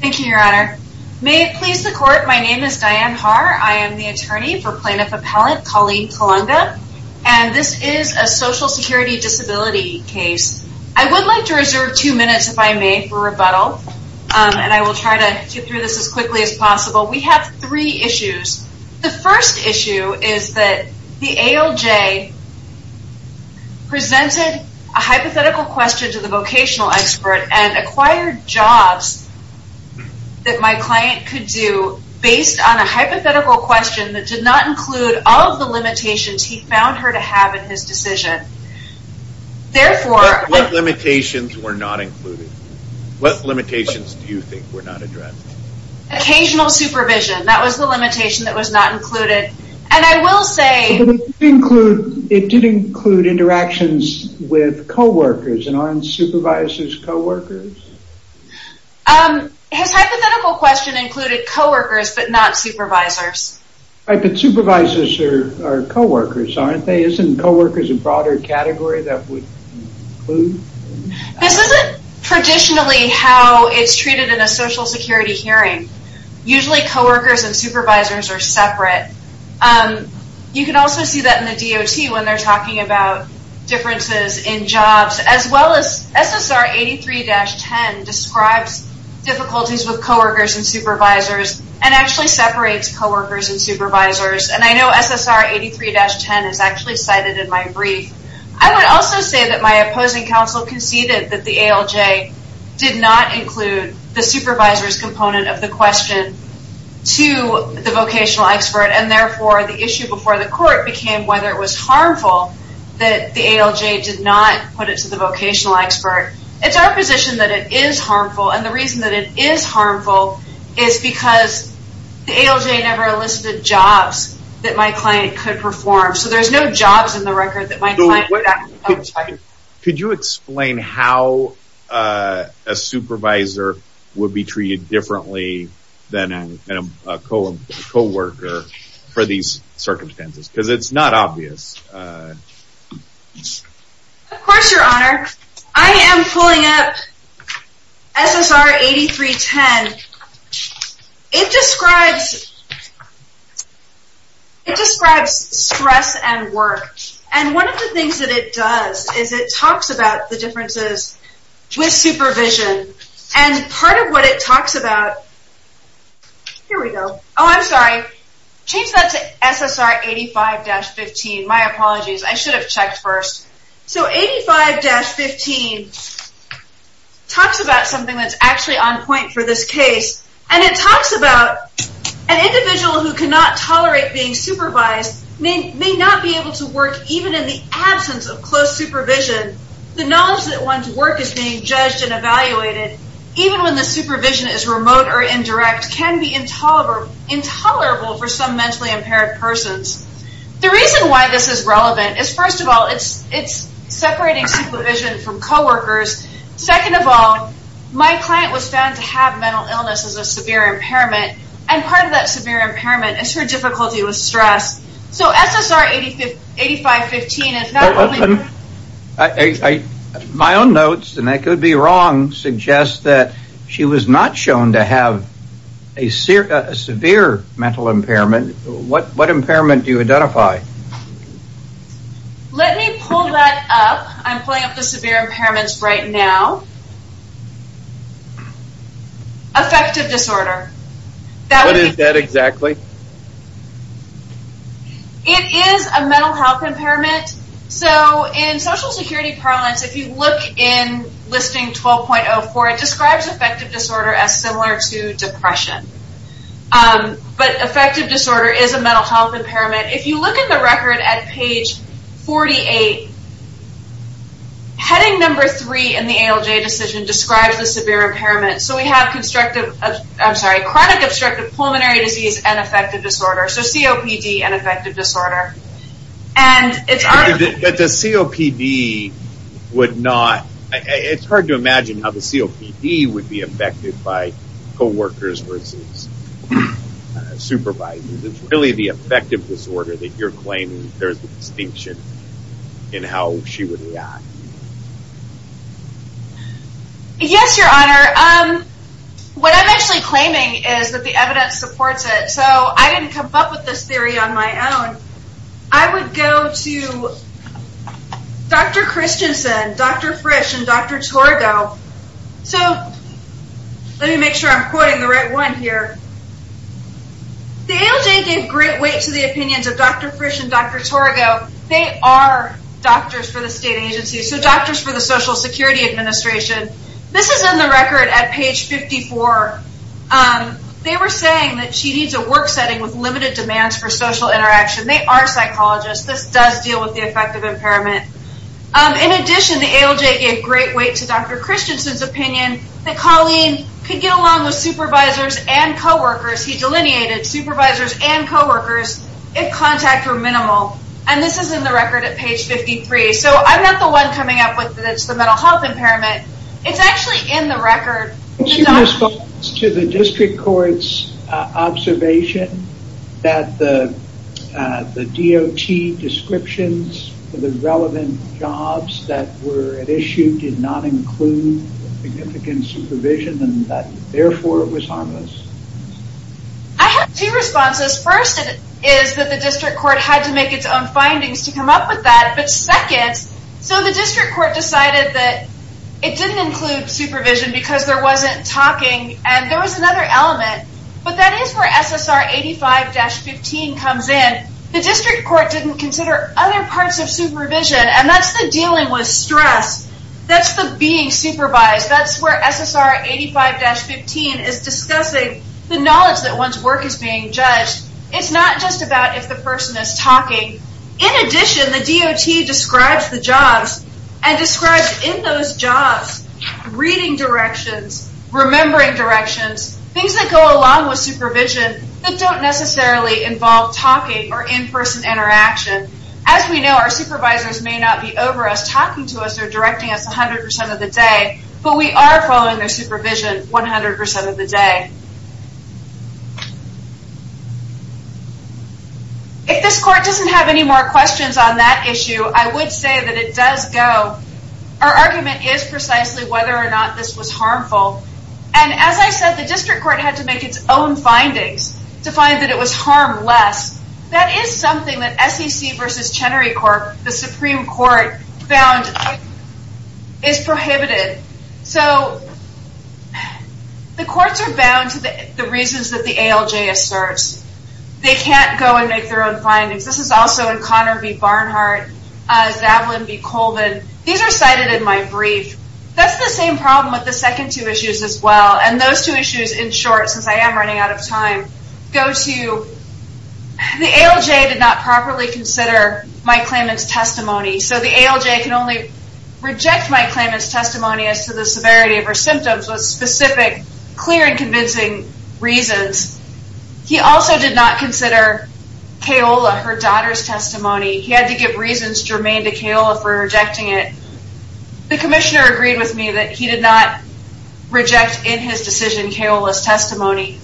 Thank you, your honor. May it please the court, my name is Diane Haar. I am the attorney for Plaintiff Appellant Colleen Colunga, and this is a social security disability case. I would like to reserve two minutes, if I may, for rebuttal, and I will try to get through this as quickly as possible. We have three issues. The first issue is that the ALJ presented a hypothetical question to the vocational expert and acquired jobs that my client could do based on a hypothetical question that did not include all of the limitations he found her to have in his decision. What limitations were not included? What limitations do you think were not addressed? Occasional supervision, that was the limitation that was not included, and I will say It did include interactions with co-workers, and aren't supervisors co-workers? His hypothetical question included co-workers, but not supervisors. But supervisors are co-workers, aren't they? Isn't co-workers a broader category that would include? This isn't traditionally how it's treated in a social security hearing. Usually co-workers and supervisors are separate. You can also see that in the DOT when they're talking about differences in jobs, as well as SSR 83-10 describes difficulties with co-workers and supervisors, and actually separates co-workers and supervisors, and I know SSR 83-10 is actually cited in my brief. I would also say that my opposing counsel conceded that the ALJ did not include the supervisor's component of the question to the vocational expert, and therefore the issue before the court became whether it was harmful that the ALJ did not put it to the vocational expert. It's our position that it is harmful, and the reason that it is harmful is because the ALJ never listed jobs that my client could perform. So there's no jobs in the record that my client would have. Could you explain how a supervisor would be treated differently than a co-worker for these circumstances? Because it's not obvious. Of course, Your Honor. I am pulling up SSR 83-10. It describes stress and work, and one of the things that it does is it talks about the differences with supervision. Here we go. Oh, I'm sorry. Change that to SSR 85-15. My apologies. I should have checked first. So 85-15 talks about something that's actually on point for this case, and it talks about an individual who cannot tolerate being supervised may not be able to work even in the absence of close supervision. The knowledge that one's work is being judged and evaluated, even when the supervision is remote or indirect, can be intolerable for some mentally impaired persons. The reason why this is relevant is, first of all, it's separating supervision from co-workers. Second of all, my client was found to have mental illness as a severe impairment, and part of that severe impairment is her difficulty with stress. So SSR 85-15 is not only... My own notes, and I could be wrong, suggest that she was not shown to have a severe mental impairment. What impairment do you identify? Let me pull that up. I'm pulling up the severe impairments right now. Affective disorder. What is that exactly? It is a mental health impairment. In social security parlance, if you look in listing 12.04, it describes affective disorder as similar to depression. But affective disorder is a mental health impairment. If you look in the record at page 48, heading number three in the ALJ decision describes the severe impairment. So we have chronic obstructive pulmonary disease and affective disorder. So COPD and affective disorder. But the COPD would not... It's hard to imagine how the COPD would be affected by co-workers versus supervisors. It's really the affective disorder that you're claiming there's a distinction in how she would react. Yes, your honor. What I'm actually claiming is that the evidence supports it. So I didn't come up with this theory on my own. I would go to Dr. Christensen, Dr. Frisch, and Dr. Torgo. So let me make sure I'm quoting the right one here. The ALJ gave great weight to the opinions of Dr. Frisch and Dr. Torgo. They are doctors for the state agency, so doctors for the Social Security Administration. This is in the record at page 54. They were saying that she needs a work setting with limited demands for social interaction. They are psychologists. This does deal with the affective impairment. In addition, the ALJ gave great weight to Dr. Christensen's opinion that Colleen could get along with supervisors and co-workers. He delineated supervisors and co-workers if contact were minimal. And this is in the record at page 53. So I'm not the one coming up with that it's the mental health impairment. It's actually in the record. What's your response to the district court's observation that the DOT descriptions for the relevant jobs that were at issue did not include significant supervision and that, therefore, it was harmless? I have two responses. First is that the district court had to make its own findings to come up with that. But second, so the district court decided that it didn't include supervision because there wasn't talking and there was another element. But that is where SSR 85-15 comes in. The district court didn't consider other parts of supervision, and that's the dealing with stress. That's the being supervised. That's where SSR 85-15 is discussing the knowledge that one's work is being judged. It's not just about if the person is talking. In addition, the DOT describes the jobs and describes in those jobs reading directions, remembering directions, things that go along with supervision that don't necessarily involve talking or in-person interaction. As we know, our supervisors may not be over us talking to us or directing us 100% of the day, but we are following their supervision 100% of the day. If this court doesn't have any more questions on that issue, I would say that it does go. Our argument is precisely whether or not this was harmful. And as I said, the district court had to make its own findings to find that it was harmless. That is something that SEC versus Chenery Court, the Supreme Court, found is prohibited. So the courts are bound to the reasons that the ALJ asserts. They can't go and make their own findings. This is also in Connor v. Barnhart, Zavlin v. Colvin. These are cited in my brief. That's the same problem with the second two issues as well. And those two issues, in short, since I am running out of time, go to the ALJ did not properly consider my claimant's testimony. So the ALJ can only reject my claimant's testimony as to the severity of her symptoms with specific, clear, and convincing reasons. He also did not consider Kaola, her daughter's testimony. He had to give reasons germane to Kaola for rejecting it. The commissioner agreed with me that he did not reject in his decision Kaola's testimony.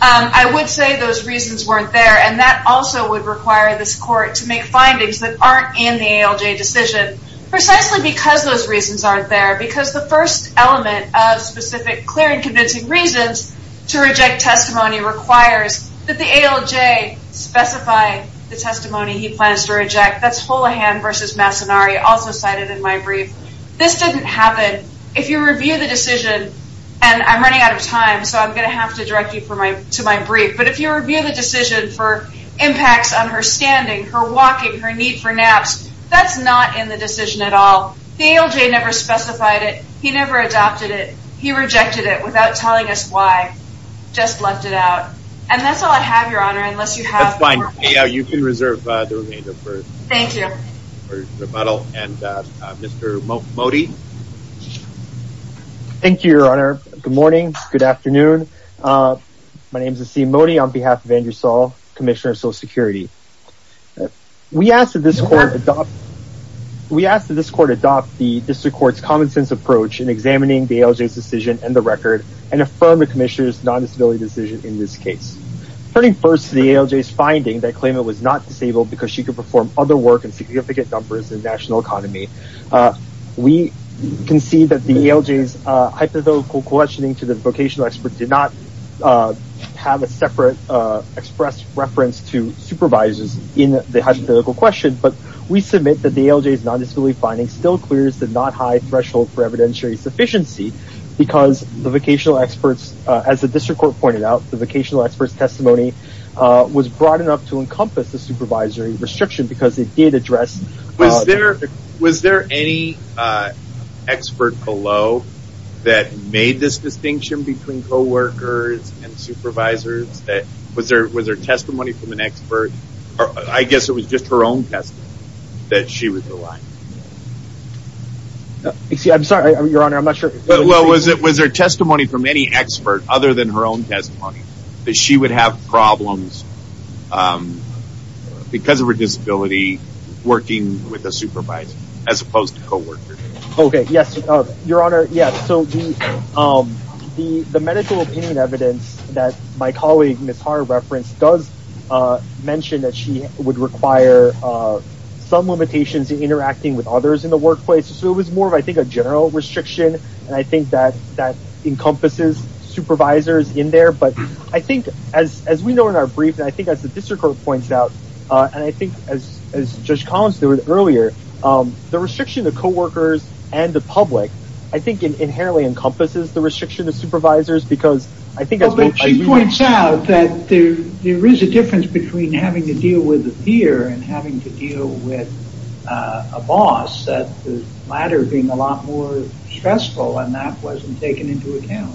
I would say those reasons weren't there. And that also would require this court to make findings that aren't in the ALJ decision precisely because those reasons aren't there. Because the first element of specific, clear, and convincing reasons to reject testimony requires that the ALJ specify the testimony he plans to reject. That's Holohan v. Massonari, also cited in my brief. This didn't happen. If you review the decision, and I'm running out of time, so I'm going to have to direct you to my brief, but if you review the decision for impacts on her standing, her walking, her need for naps, that's not in the decision at all. The ALJ never specified it. He never adopted it. He rejected it without telling us why. Just left it out. And that's all I have, Your Honor, unless you have more questions. You can reserve the remainder for rebuttal. And Mr. Modi? Thank you, Your Honor. Good morning. Good afternoon. My name is Asim Modi on behalf of Andrew Saul, Commissioner of Social Security. We asked that this court adopt the District Court's common-sense approach in examining the ALJ's decision and the record and affirm the Commissioner's non-disability decision in this case. Turning first to the ALJ's finding that Klayma was not disabled because she could perform other work in significant numbers in the national economy, we can see that the ALJ's hypothetical questioning to the vocational expert did not have a separate expressed reference to supervisors in the hypothetical question, but we submit that the ALJ's non-disability finding still clears the not-high threshold for evidentiary sufficiency because the vocational experts, as the District Court pointed out, the vocational experts' testimony was broad enough to encompass the supervisory restriction because it did address... Was there any expert below that made this distinction between coworkers and supervisors? Was there testimony from an expert? I guess it was just her own testimony that she was alive. I'm sorry, Your Honor, I'm not sure... Was there testimony from any expert other than her own testimony that she would have problems because of her disability working with a supervisor as opposed to coworkers? Okay, yes, Your Honor. So the medical opinion evidence that my colleague Ms. Haar referenced does mention that she would require some limitations in interacting with others in the workplace. So it was more of, I think, a general restriction, and I think that encompasses supervisors in there. But I think, as we know in our brief, and I think as the District Court points out, and I think as Judge Collins noted earlier, the restriction to coworkers and the public, I think, inherently encompasses the restriction to supervisors because I think... But she points out that there is a difference between having to deal with a peer and having to deal with a boss, the latter being a lot more stressful, and that wasn't taken into account.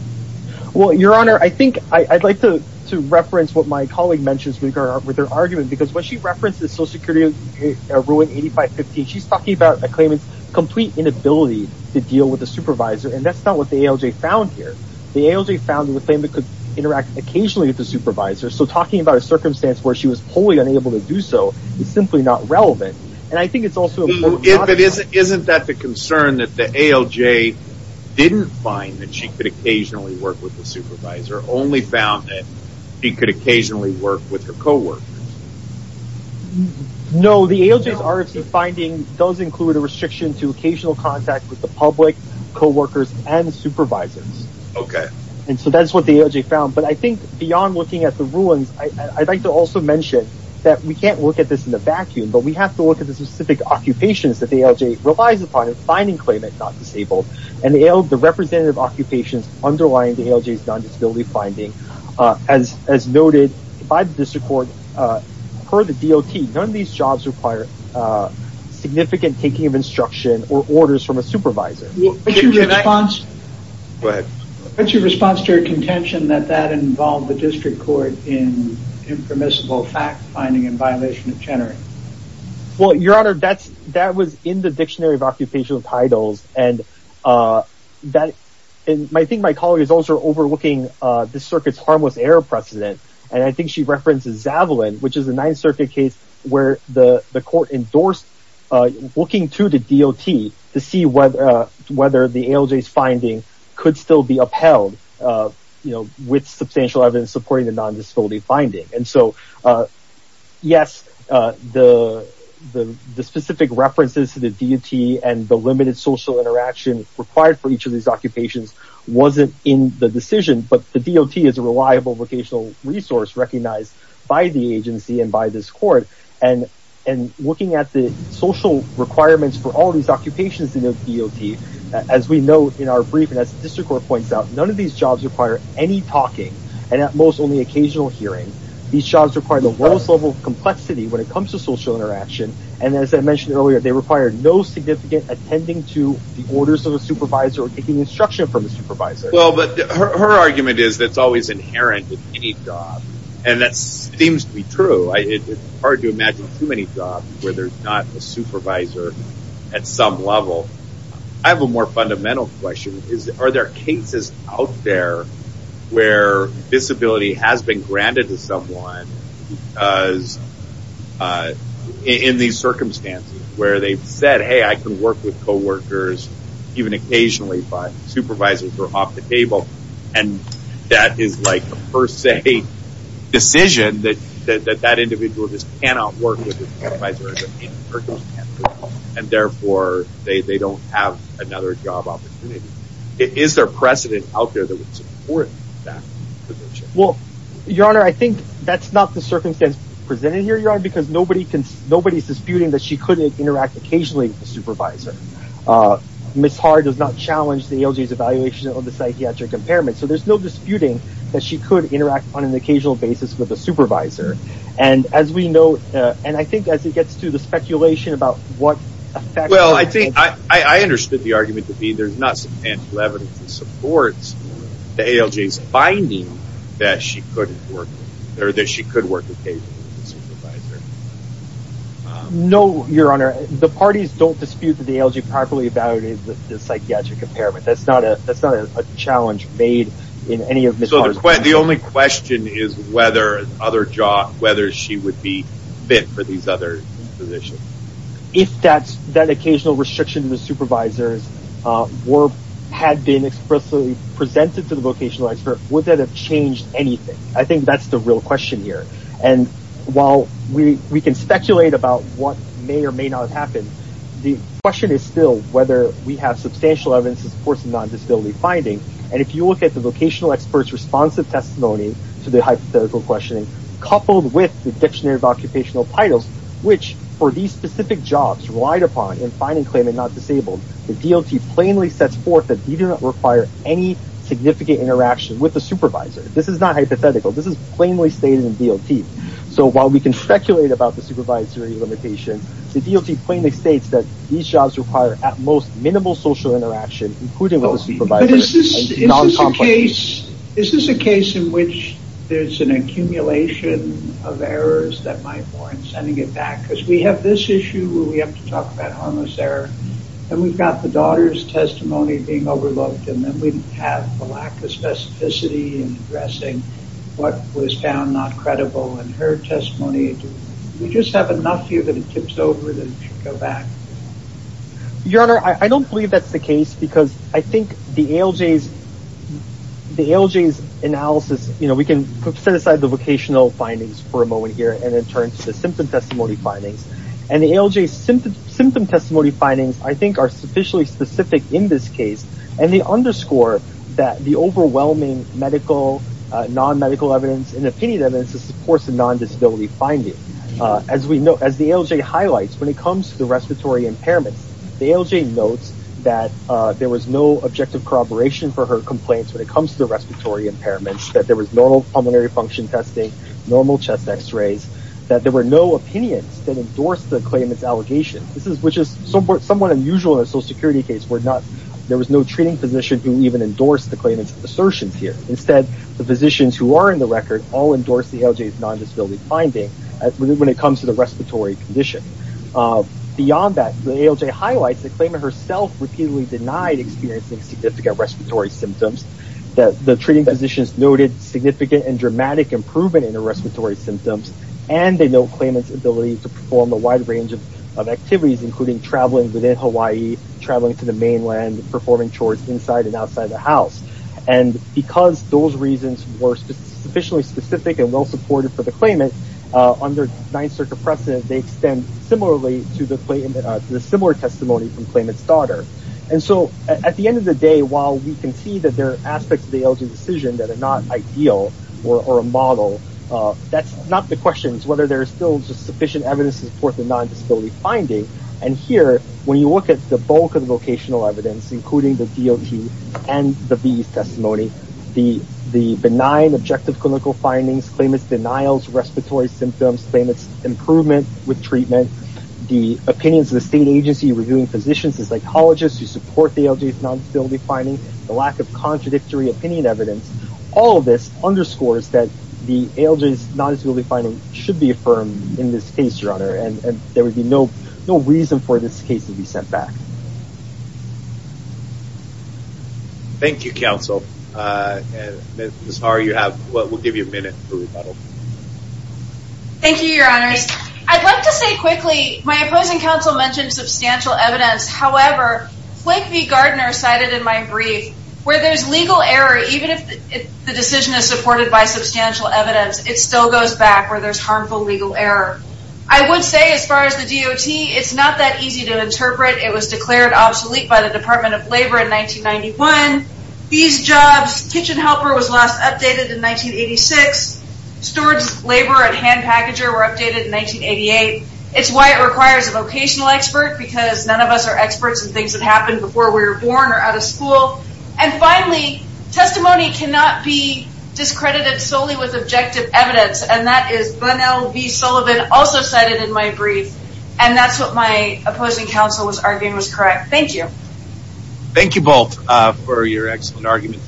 Well, Your Honor, I think I'd like to reference what my colleague mentions with her argument, because when she references Social Security Ruin 8515, she's talking about a claimant's complete inability to deal with a supervisor, and that's not what the ALJ found here. The ALJ found that the claimant could interact occasionally with the supervisor, so talking about a circumstance where she was wholly unable to do so is simply not relevant. Isn't that the concern, that the ALJ didn't find that she could occasionally work with the supervisor, only found that she could occasionally work with her coworkers? No, the ALJ's article's finding does include a restriction to occasional contact with the public, coworkers, and supervisors. Okay. And so that's what the ALJ found. But I think, beyond looking at the ruins, I'd like to also mention that we can't look at this in a vacuum, but we have to look at the specific occupations that the ALJ relies upon in finding claimant not disabled, and the representative occupations underlying the ALJ's non-disability finding. As noted by the District Court, per the DOT, none of these jobs require significant taking of instruction or orders from a supervisor. What's your response to her contention that that involved the District Court in impermissible fact-finding in violation of Chennery? Well, Your Honor, that was in the Dictionary of Occupational Titles, and I think my colleague is also overlooking this circuit's harmless error precedent, and I think she references Zavalin, which is a Ninth Circuit case where the court endorsed looking to the DOT to see whether the ALJ's finding could still be upheld with substantial evidence supporting the non-disability finding. And so, yes, the specific references to the DOT and the limited social interaction required for each of these occupations wasn't in the decision, but the DOT is a reliable vocational resource recognized by the agency and by this court, and looking at the social requirements for all these occupations in the DOT, as we note in our brief and as the District Court points out, none of these jobs require any talking, and at most, only occasional hearing. These jobs require the lowest level of complexity when it comes to social interaction, and as I mentioned earlier, they require no significant attending to the orders of a supervisor or taking instruction from a supervisor. Well, but her argument is that it's always inherent with any job, and that seems to be true. It's hard to imagine too many jobs where there's not a supervisor at some level. I have a more fundamental question. Are there cases out there where disability has been granted to someone because in these circumstances where they've said, hey, I can work with coworkers, even occasionally, but supervisors are off the table, and that is like a per se decision that that individual just cannot work with a supervisor in that circumstance, and therefore they don't have another job opportunity. Is there precedent out there that would support that position? Well, Your Honor, I think that's not the circumstance presented here, Your Honor, because nobody's disputing that she could interact occasionally with a supervisor. Ms. Hard does not challenge the ALJ's evaluation of the psychiatric impairment, so there's no disputing that she could interact on an occasional basis with a supervisor, and as we know, and I think as it gets to the speculation about what effect... Well, I think I understood the argument to be there's not substantial evidence that supports the ALJ's finding that she could work occasionally with a supervisor. No, Your Honor, the parties don't dispute the ALJ properly evaluating the psychiatric impairment. That's not a challenge made in any of Ms. Hard's... So the only question is whether she would be fit for these other positions. If that occasional restriction to the supervisors had been expressly presented to the vocational expert, would that have changed anything? I think that's the real question here, and while we can speculate about what may or may not have happened, the question is still whether we have substantial evidence that supports the non-disability finding, and if you look at the vocational expert's responsive testimony to the hypothetical questioning, coupled with the dictionary of occupational titles, which for these specific jobs relied upon in finding claimant not disabled, the DOT plainly sets forth that he did not require any significant interaction with the supervisor. This is not hypothetical, this is plainly stated in DOT. So while we can speculate about the supervisory limitation, the DOT plainly states that these jobs require at most minimal social interaction, including with the supervisor, and non-compliance. Is this a case in which there's an accumulation of errors that might warrant sending it back? Because we have this issue where we have to talk about harmless error, and we've got the daughter's testimony being overlooked, and then we have a lack of specificity in addressing what was found not credible in her testimony. Do we just have enough here that it tips over that it should go back? Your Honor, I don't believe that's the case, because I think the ALJ's analysis, you know, we can set aside the vocational findings for a moment here, and then turn to the symptom testimony findings, and the ALJ's symptom testimony findings, I think, are sufficiently specific in this case, and they underscore that the overwhelming medical, non-medical evidence and opinion evidence is, of course, a non-disability finding. As the ALJ highlights, when it comes to respiratory impairments, the ALJ notes that there was no objective corroboration for her complaints when it comes to respiratory impairments, that there was normal pulmonary function testing, normal chest X-rays, that there were no opinions that endorsed the claimant's allegations, which is somewhat unusual in a Social Security case where there was no treating physician who even endorsed the claimant's assertions here. Instead, the physicians who are in the record all endorsed the ALJ's non-disability finding when it comes to the respiratory condition. Beyond that, the ALJ highlights the claimant herself repeatedly denied experiencing significant respiratory symptoms, that the treating physicians noted significant and dramatic improvement in her respiratory symptoms, and they note claimant's ability to perform a wide range of activities, including traveling within Hawaii, traveling to the mainland, performing chores inside and outside the house. And because those reasons were sufficiently specific and well-supported for the claimant, under Ninth Circuit precedent, they extend similarly to the similar testimony from claimant's daughter. And so at the end of the day, while we can see that there are aspects of the ALJ decision that are not ideal or a model, that's not the question. It's whether there is still sufficient evidence to support the non-disability finding. And here, when you look at the bulk of the vocational evidence, including the DOT and the BE's testimony, the benign objective clinical findings, claimant's denials, respiratory symptoms, claimant's improvement with treatment, the opinions of the state agency reviewing physicians and psychologists who support the ALJ's non-disability finding, the lack of contradictory opinion evidence, all of this underscores that the ALJ's non-disability finding should be affirmed in this case, Your Honor, and there would be no reason for this case to be sent back. Thank you, counsel. Ms. Haru, we'll give you a minute for rebuttal. Thank you, Your Honors. I'd like to say quickly, my opposing counsel mentioned substantial evidence. However, Flake v. Gardner cited in my brief, where there's legal error, even if the decision is supported by substantial evidence, it still goes back where there's harmful legal error. I would say, as far as the DOT, it's not that easy to interpret. It was declared obsolete by the Department of Labor in 1991. These jobs, kitchen helper was last updated in 1986. Steward's labor and hand packager were updated in 1988. It's why it requires a vocational expert, because none of us are experts in things that happened before we were born or out of school. And finally, testimony cannot be discredited solely with objective evidence, and that is Bunnell v. Sullivan, also cited in my brief, and that's what my opposing counsel was arguing was correct. Thank you. Thank you both for your excellent arguments.